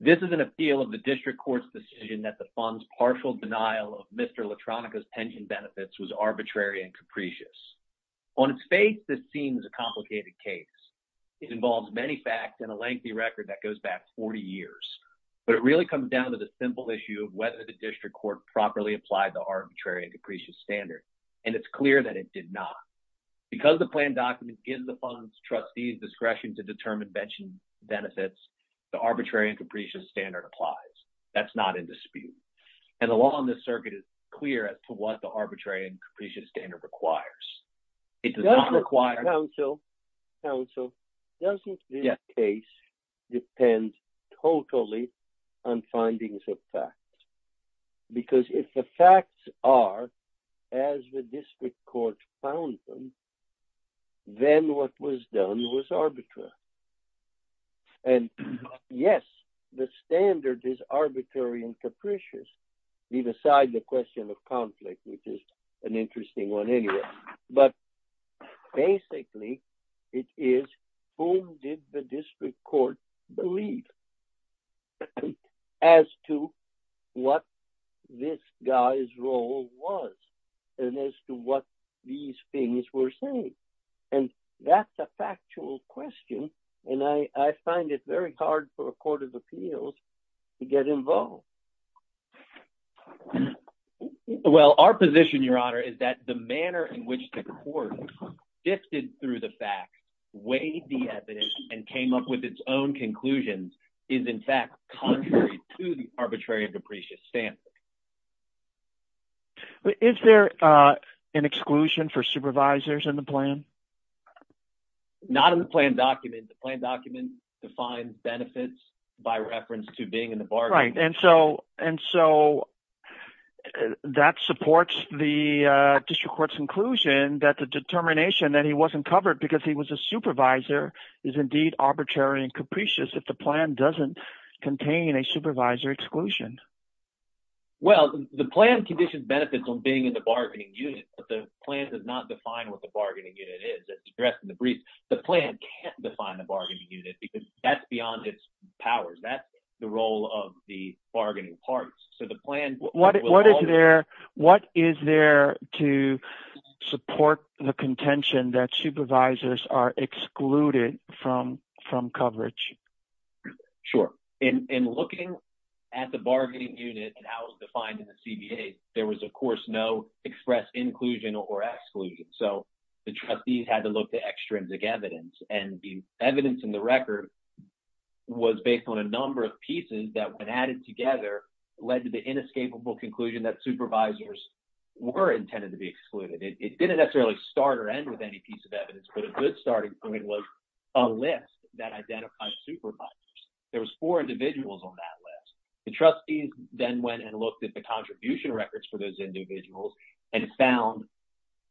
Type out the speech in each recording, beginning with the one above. This is an appeal of the district court's decision that the fund's partial denial of arbitrary and capricious. On its face, this seems a complicated case. It involves many facts and a lengthy record that goes back 40 years, but it really comes down to the simple issue of whether the district court properly applied the arbitrary and capricious standard, and it's clear that it did not. Because the plan document gives the fund's trustees discretion to determine benefits, the arbitrary and capricious standard applies. That's not in dispute. And the law on this circuit is clear as to what the arbitrary and capricious standard requires. Counsel, Counsel, doesn't this case depend totally on findings of fact? Because if the facts are as the district court found them, then what was done was arbitrary. And yes, the standard is arbitrary and capricious. Leave aside the question of conflict, which is an interesting one anyway. But basically, it is, whom did the district court believe as to what this guy's role was and as to what these things were saying? And that's a factual question. And I find it very hard for a court of appeals to get involved. Well, our position, Your Honor, is that the manner in which the court sifted through the facts, weighed the evidence, and came up with its own conclusions is in fact contrary to the arbitrary and capricious standard. Is there an exclusion for supervisors in the plan? Not in the plan document. The plan document defines benefits by reference to being in the bargaining unit. Right, and so that supports the district court's inclusion that the determination that he wasn't covered because he was a supervisor is indeed arbitrary and capricious if the plan doesn't contain a supervisor exclusion. Well, the plan conditions benefits on being in the bargaining unit, but the plan does not define what the bargaining unit is. It's addressed in the briefs. The plan can't define the bargaining unit because that's beyond its powers. That's the role of the bargaining parties. So the plan – What is there to support the contention that supervisors are excluded from coverage? Sure. In looking at the bargaining unit and how it was defined in the CBA, there was, of course, no express inclusion or exclusion. So the trustees had to look to extrinsic evidence, and the evidence in the record was based on a number of pieces that, when added together, led to the inescapable conclusion that supervisors were intended to be excluded. It didn't necessarily start or end with any piece of evidence, but a good starting point was a list that identified supervisors. There was four individuals on that list. The trustees then went and looked at the contribution records for those individuals and found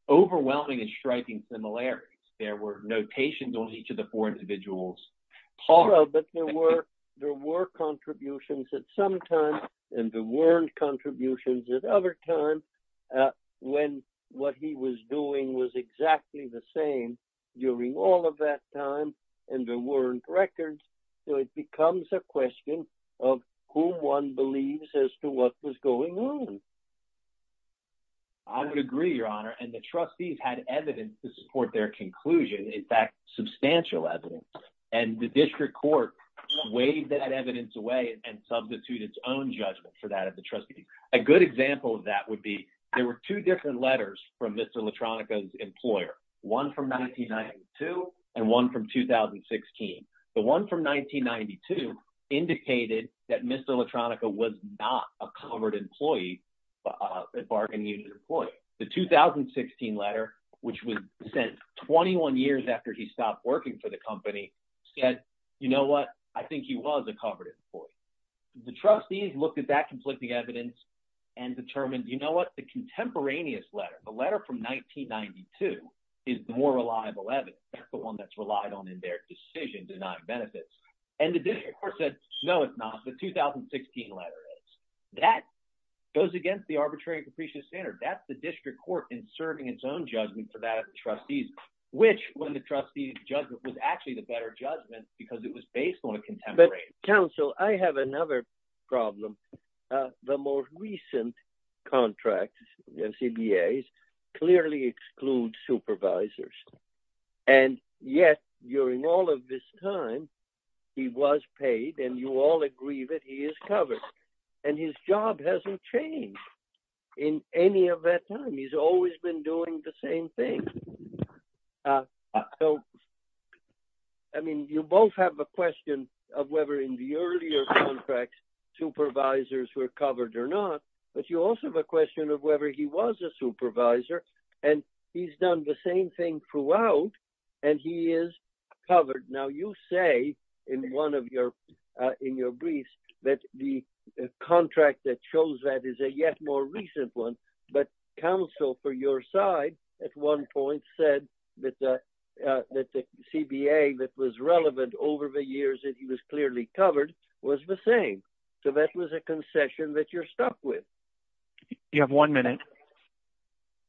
overwhelming and striking similarities. There were notations on each of the four individuals. But there were contributions at some time, and there weren't contributions at other times, when what he was doing was exactly the same during all of that time, and there weren't records. So it becomes a question of who one believes as to what was going on. I would agree, Your Honor, and the trustees had evidence to support their conclusion, in fact, substantial evidence, and the district court waived that evidence away and substituted its own judgment for that of the trustees. A good example of that would be there were two different letters from Mr. Latronica's employer, one from 1992 and one from 2016. The one from 1992 indicated that Mr. Latronica was not a covered employee, a bargaining union employee. The 2016 letter, which was sent 21 years after he stopped working for the company, said, you know what, I think he was a covered employee. The trustees looked at that conflicting evidence and determined, you know what, the contemporaneous letter, the letter from 1992 is the more reliable evidence. That's the one that's relied on in their decision to deny benefits. And the district court said, no, it's not. The 2016 letter is. That goes against the arbitrary and capricious standard. That's the district court inserting its own judgment for that of the trustees, which, when the trustees judged it, was actually the better judgment because it was based on a contemporaneous. Council, I have another problem. The most recent contracts, CBAs, clearly exclude supervisors. And yet, during all of this time, he was paid, and you all agree that he is covered. And his job hasn't changed in any of that time. He's always been doing the same thing. I mean, you both have a question of whether in the earlier contract supervisors were covered or not, but you also have a question of whether he was a supervisor, and he's done the same thing throughout, and he is covered. Now, you say in one of your briefs that the contract that shows that is a yet more recent one, but counsel for your side at one point said that the CBA that was relevant over the years that he was clearly covered was the same. So that was a concession that you're stuck with. You have one minute.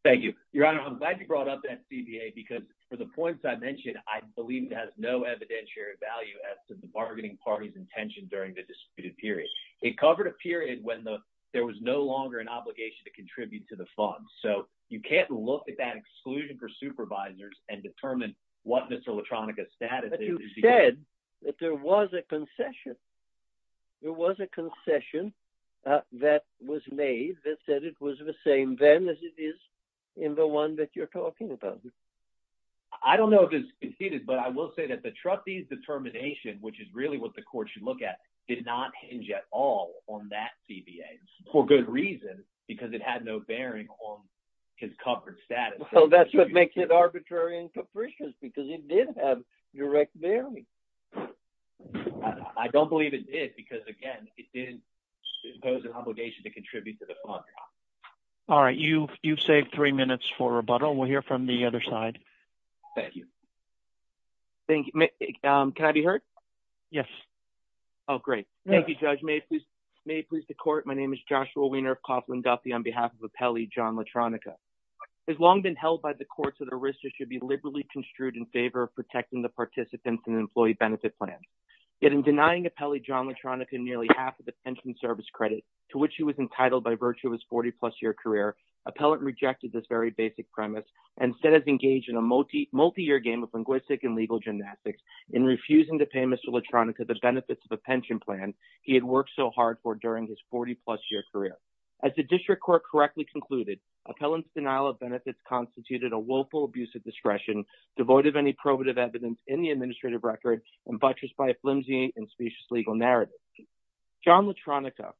Thank you. Your Honor, I'm glad you brought up that CBA because for the points I mentioned, I believe it has no evidentiary value as to the bargaining party's intention during the disputed period. It covered a period when there was no longer an obligation to contribute to the fund. So you can't look at that exclusion for supervisors and determine what Mr. Latronica's status is. But you said that there was a concession. There was a concession that was made that said it was the same then as it is in the one that you're talking about. I don't know if it's conceded, but I will say that the trustees' determination, which is really what the court should look at, did not hinge at all on that CBA for good reason because it had no bearing on his covered status. Well, that's what makes it arbitrary and capricious because it did have direct bearing. I don't believe it did because, again, it didn't impose an obligation to contribute to the fund. All right. You've saved three minutes for rebuttal. We'll hear from the other side. Thank you. Thank you. Can I be heard? Yes. Oh, great. Thank you, Judge. May it please the court. My name is Joshua Weiner of Coughlin-Duffy on behalf of Appellee John Latronica. It has long been held by the courts that a risker should be liberally construed in favor of protecting the participants in an employee benefit plan. Yet in denying Appellee John Latronica nearly half of the pension service credit to which he was entitled by virtue of his 40-plus year career, Appellant rejected this very basic premise and instead has engaged in a multi-year game of linguistic and legal gymnastics in refusing to pay Mr. Latronica the benefits of a pension plan he had worked so hard for during his 40-plus year career. As the district court correctly concluded, Appellant's denial of benefits constituted a willful abuse of discretion devoid of any probative evidence in the administrative record and buttressed by a flimsy and specious legal narrative. John Latronica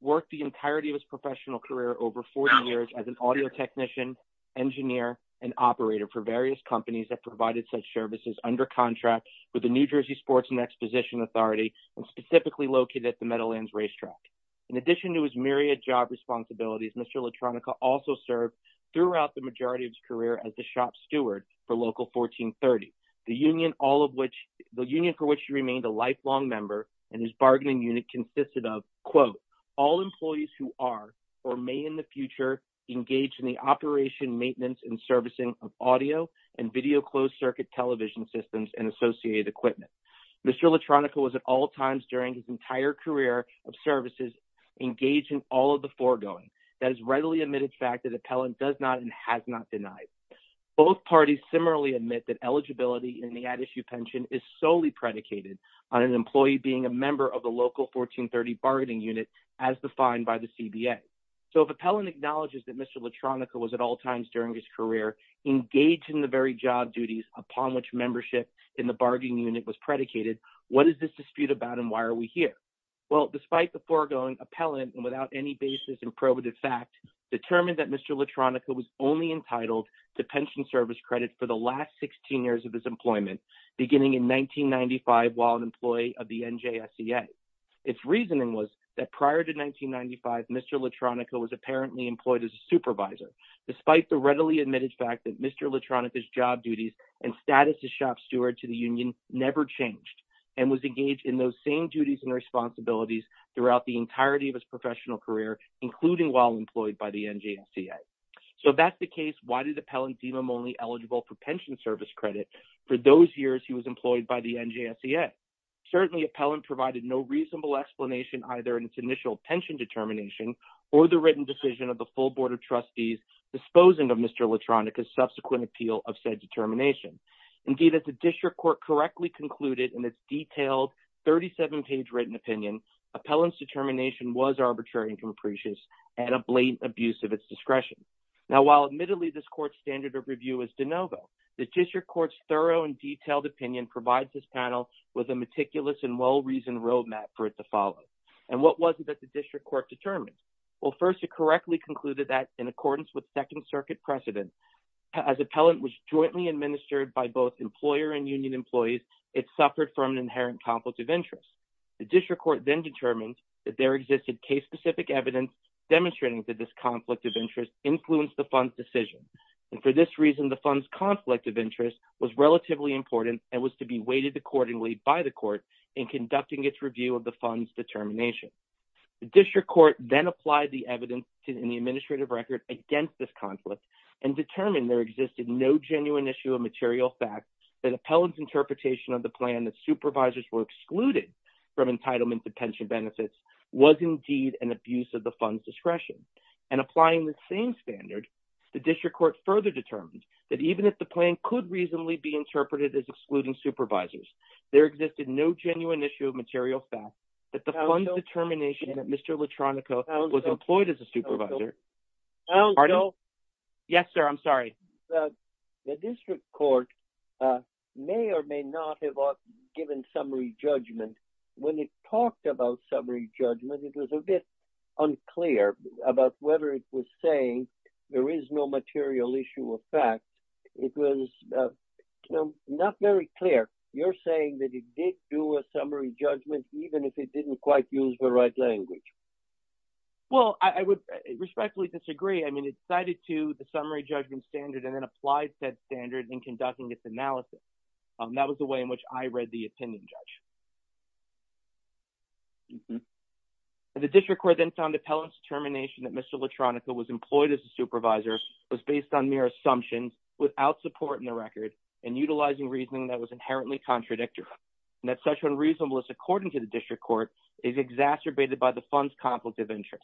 worked the entirety of his professional career over 40 years as an audio technician, engineer, and operator for various companies that provided such services under contract with the New Jersey Sports and Exposition Authority and specifically located at the Meadowlands Racetrack. In addition to his myriad job responsibilities, Mr. Latronica also served throughout the majority of his career as the shop steward for Local 1430, the union for which he remained a lifelong member and his bargaining unit consisted of, quote, all employees who are or may in the future engage in the operation, maintenance, and servicing of audio and video closed circuit television systems and associated equipment. Mr. Latronica was at all times during his entire career of services engaged in all of the foregoing. That is readily admitted fact that Appellant does not and has not denied. Both parties similarly admit that eligibility in the ad issue pension is solely predicated on an employee being a member of the Local 1430 bargaining unit as defined by the CBA. So if Appellant acknowledges that Mr. Latronica was at all times during his career engaged in the very job duties upon which membership in the bargaining unit was predicated, what is this dispute about and why are we here? Well, despite the foregoing, Appellant, and without any basis in probative fact, determined that Mr. Latronica was only entitled to pension service credit for the last 16 years of his employment, beginning in 1995 while an employee of the NJSEA. Its reasoning was that prior to 1995, Mr. Latronica was apparently employed as a supervisor, despite the readily admitted fact that Mr. Latronica's job duties and status as shop steward to the union never changed and was engaged in those same duties and responsibilities throughout the entirety of his professional career, including while employed by the NJSEA. So if that's the case, why did Appellant deem him only eligible for pension service credit for those years he was employed by the NJSEA? Certainly Appellant provided no reasonable explanation either in its initial pension determination or the written decision of the full Board of Trustees disposing of Mr. Latronica's subsequent appeal of said determination. Indeed, as the District Court correctly concluded in its detailed 37-page written opinion, Appellant's determination was arbitrary and capricious and a blatant abuse of its discretion. Now, while admittedly this Court's standard of review is de novo, the District Court's thorough and detailed opinion provides this panel with a meticulous and well-reasoned roadmap for it to follow. And what was it that the District Court determined? Well, first it correctly concluded that, in accordance with Second Circuit precedent, as Appellant was jointly administered by both employer and union employees, it suffered from an inherent conflict of interest. The District Court then determined that there existed case-specific evidence demonstrating that this conflict of interest influenced the Fund's decision. And for this reason, the Fund's conflict of interest was relatively important and was to be weighted accordingly by the Court in conducting its review of the Fund's determination. The District Court then applied the evidence in the administrative record against this conflict and determined there existed no genuine issue of material fact that Appellant's interpretation of the plan that supervisors were excluded from entitlement to pension benefits was indeed an abuse of the Fund's discretion. And applying this same standard, the District Court further determined that even if the plan could reasonably be interpreted as excluding supervisors, there existed no genuine issue of material fact that the Fund's determination that Mr. Latronico was employed as a supervisor… …about whether it was saying there is no material issue of fact, it was not very clear. You're saying that it did do a summary judgment even if it didn't quite use the right language. Well, I would respectfully disagree. I mean, it cited to the summary judgment standard and then applied said standard in conducting its analysis. That was the way in which I read the opinion, Judge. The District Court then found Appellant's determination that Mr. Latronico was employed as a supervisor was based on mere assumptions without support in the record and utilizing reasoning that was inherently contradictory and that such unreasonable as according to the District Court is exacerbated by the Fund's conflict of interest.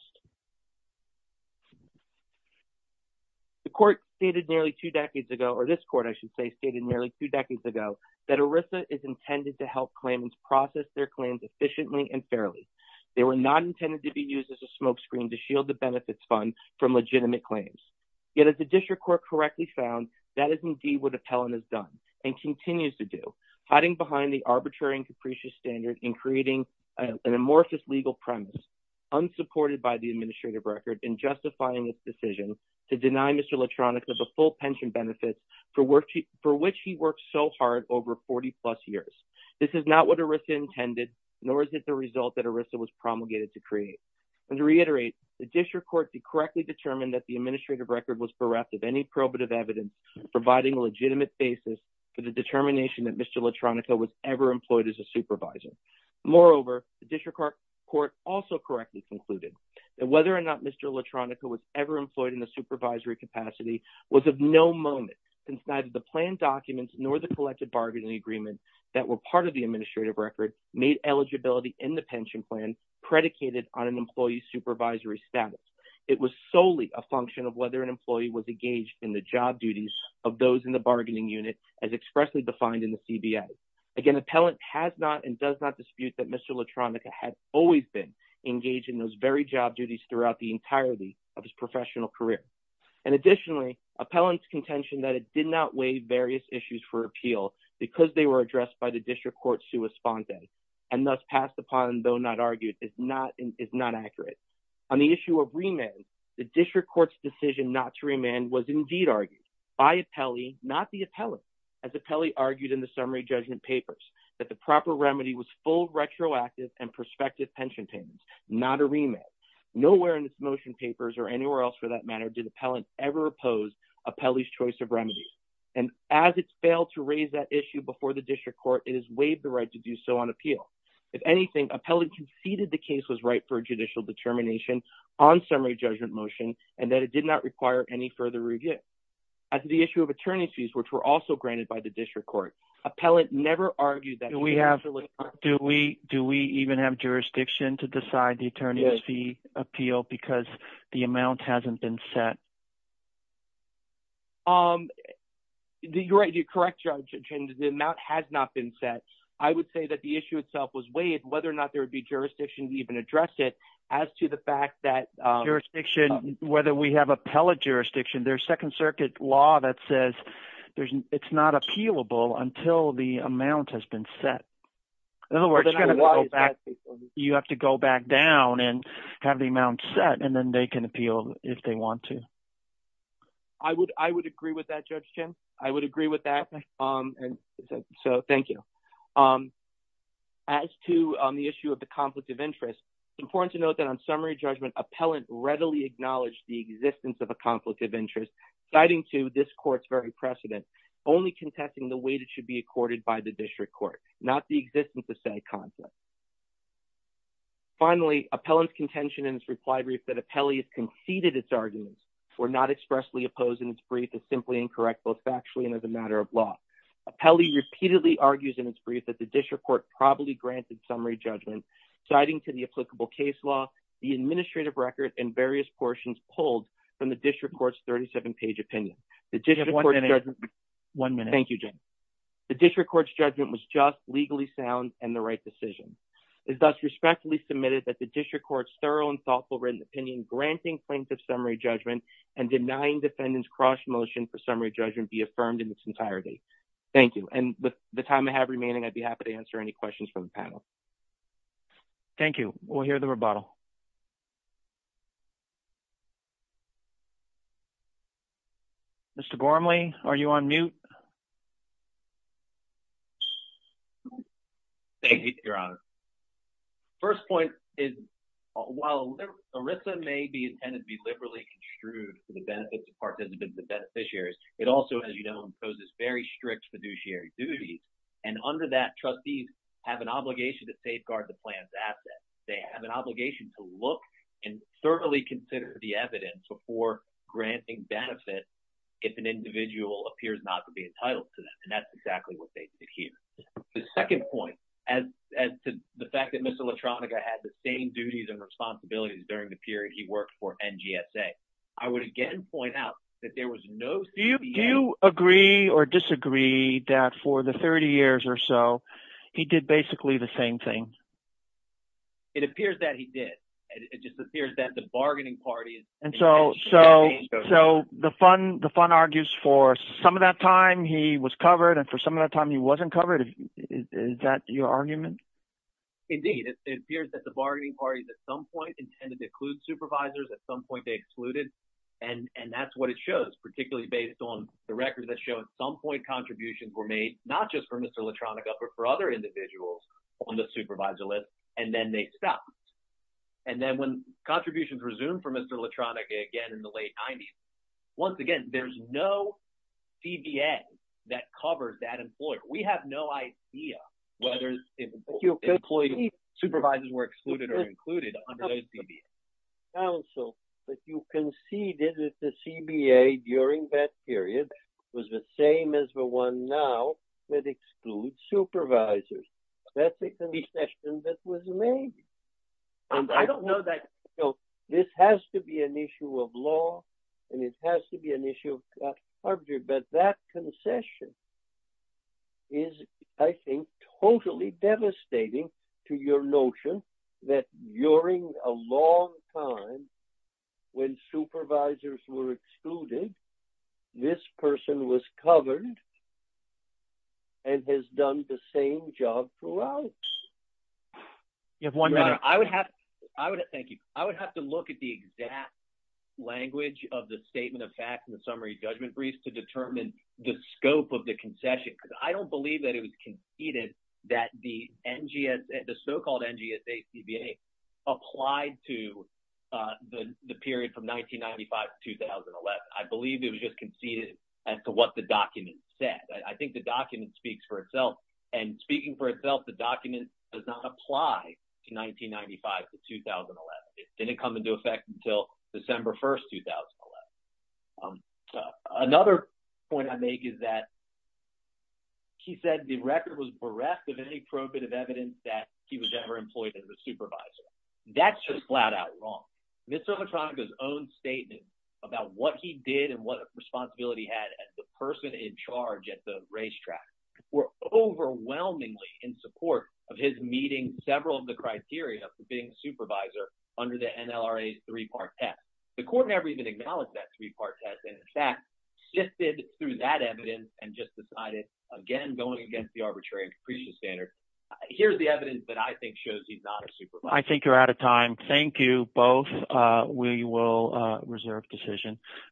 The Court stated nearly two decades ago, or this Court, I should say, stated nearly two decades ago that ERISA is intended to help claimants process their claims efficiently and fairly. They were not intended to be used as a smokescreen to shield the benefits fund from legitimate claims. Yet as the District Court correctly found, that is indeed what Appellant has done and continues to do, hiding behind the arbitrary and capricious standard in creating an amorphous legal premise unsupported by the administrative record in justifying its decision to deny Mr. Latronico the full pension benefits for which he worked so hard over 40 plus years. This is not what ERISA intended, nor is it the result that ERISA was promulgated to create. And to reiterate, the District Court correctly determined that the administrative record was bereft of any probative evidence providing a legitimate basis for the determination that Mr. Latronico was ever employed as a supervisor. Moreover, the District Court also correctly concluded that whether or not Mr. Latronico was ever employed in the supervisory capacity was of no moment since neither the planned documents nor the collective bargaining agreement that were part of the administrative record made eligibility in the pension plan predicated on an employee's supervisory status. It was solely a function of whether an employee was engaged in the job duties of those in the bargaining unit as expressly defined in the CBA. Again, Appellant has not and does not dispute that Mr. Latronico had always been engaged in those very job duties throughout the entirety of his professional career. And additionally, Appellant's contention that it did not weigh various issues for appeal because they were addressed by the District Court sua sponte and thus passed upon though not argued is not accurate. On the issue of remand, the District Court's decision not to remand was indeed argued by Appellee, not the Appellant, as Appellee argued in the summary judgment papers that the proper remedy was full retroactive and prospective pension payments, not a remand. Nowhere in this motion papers or anywhere else for that matter did Appellant ever oppose Appellee's choice of remedies. And as it failed to raise that issue before the District Court, it is waived the right to do so on appeal. If anything, Appellee conceded the case was right for judicial determination on summary judgment motion and that it did not require any further review. As the issue of attorney's fees, which were also granted by the District Court, Appellant never argued that. that says it's not appealable until the amount has been set. In other words, you have to go back down and have the amount set, and then they can appeal if they want to. I would agree with that, Judge Chin. I would agree with that. So thank you. As to the issue of the conflict of interest, it's important to note that on summary judgment, Appellant readily acknowledged the existence of a conflict of interest, citing to this court's very precedent, only contesting the way it should be accorded by the District Court, not the existence of said conflict. Finally, Appellant's contention in its reply brief that Appellee has conceded its arguments were not expressly opposed in its brief is simply incorrect, both factually and as a matter of law. Appellee repeatedly argues in its brief that the District Court probably granted summary judgment, citing to the applicable case law, the administrative record, and various portions pulled from the District Court's 37-page opinion. Thank you, Judge. The District Court's judgment was just, legally sound, and the right decision. It is thus respectfully submitted that the District Court's thorough and thoughtful written opinion granting plaintiff summary judgment and denying defendants cross-motion for summary judgment be affirmed in its entirety. Thank you. And with the time I have remaining, I'd be happy to answer any questions from the panel. Thank you. We'll hear the rebuttal. Mr. Gormley, are you on mute? Thank you, Your Honor. First point is, while ERISA may be intended to be liberally construed for the benefits of participants and beneficiaries, it also, as you know, imposes very strict fiduciary duties, and under that, trustees have an obligation to safeguard the plan's assets. They have an obligation to look and thoroughly consider the evidence before granting benefits if an individual appears not to be entitled to them, and that's exactly what they did here. The second point, as to the fact that Mr. Latronica had the same duties and responsibilities during the period he worked for NGSA, I would again point out that there was no – Do you agree or disagree that for the 30 years or so, he did basically the same thing? It appears that he did. It just appears that the bargaining parties – And so the fund argues for some of that time, he was covered, and for some of that time, he wasn't covered. Is that your argument? Indeed. It appears that the bargaining parties, at some point, intended to include supervisors. At some point, they excluded, and that's what it shows, particularly based on the records that show at some point, contributions were made, not just for Mr. Latronica, but for other individuals on the supervisor list, and then they stopped. And then when contributions resumed for Mr. Latronica again in the late 90s, once again, there's no CBA that covered that employer. We have no idea whether employees, supervisors were excluded or included under those CBAs. But you conceded that the CBA during that period was the same as the one now that excludes supervisors. That's a concession that was made. I don't know that – This has to be an issue of law, and it has to be an issue of arbitration, but that concession is, I think, totally devastating to your notion that during a long time, when supervisors were excluded, this person was covered and has done the same job throughout. You have one minute. Thank you. I would have to look at the exact language of the Statement of Facts and the Summary Judgment Briefs to determine the scope of the concession because I don't believe that it was conceded that the so-called NGSA CBA applied to the period from 1995 to 2011. I believe it was just conceded as to what the document said. I think the document speaks for itself, and speaking for itself, the document does not apply to 1995 to 2011. It didn't come into effect until December 1, 2011. Another point I make is that he said the record was bereft of any probative evidence that he was ever employed as a supervisor. That's just flat-out wrong. Mr. Matronica's own statement about what he did and what responsibility he had as the person in charge at the racetrack were overwhelmingly in support of his meeting several of the criteria for being a supervisor under the NLRA's three-part test. The court never even acknowledged that three-part test and, in fact, sifted through that evidence and just decided, again, going against the arbitrary and capricious standard. Here's the evidence that I think shows he's not a supervisor. I think you're out of time. Thank you both. We will reserve decision.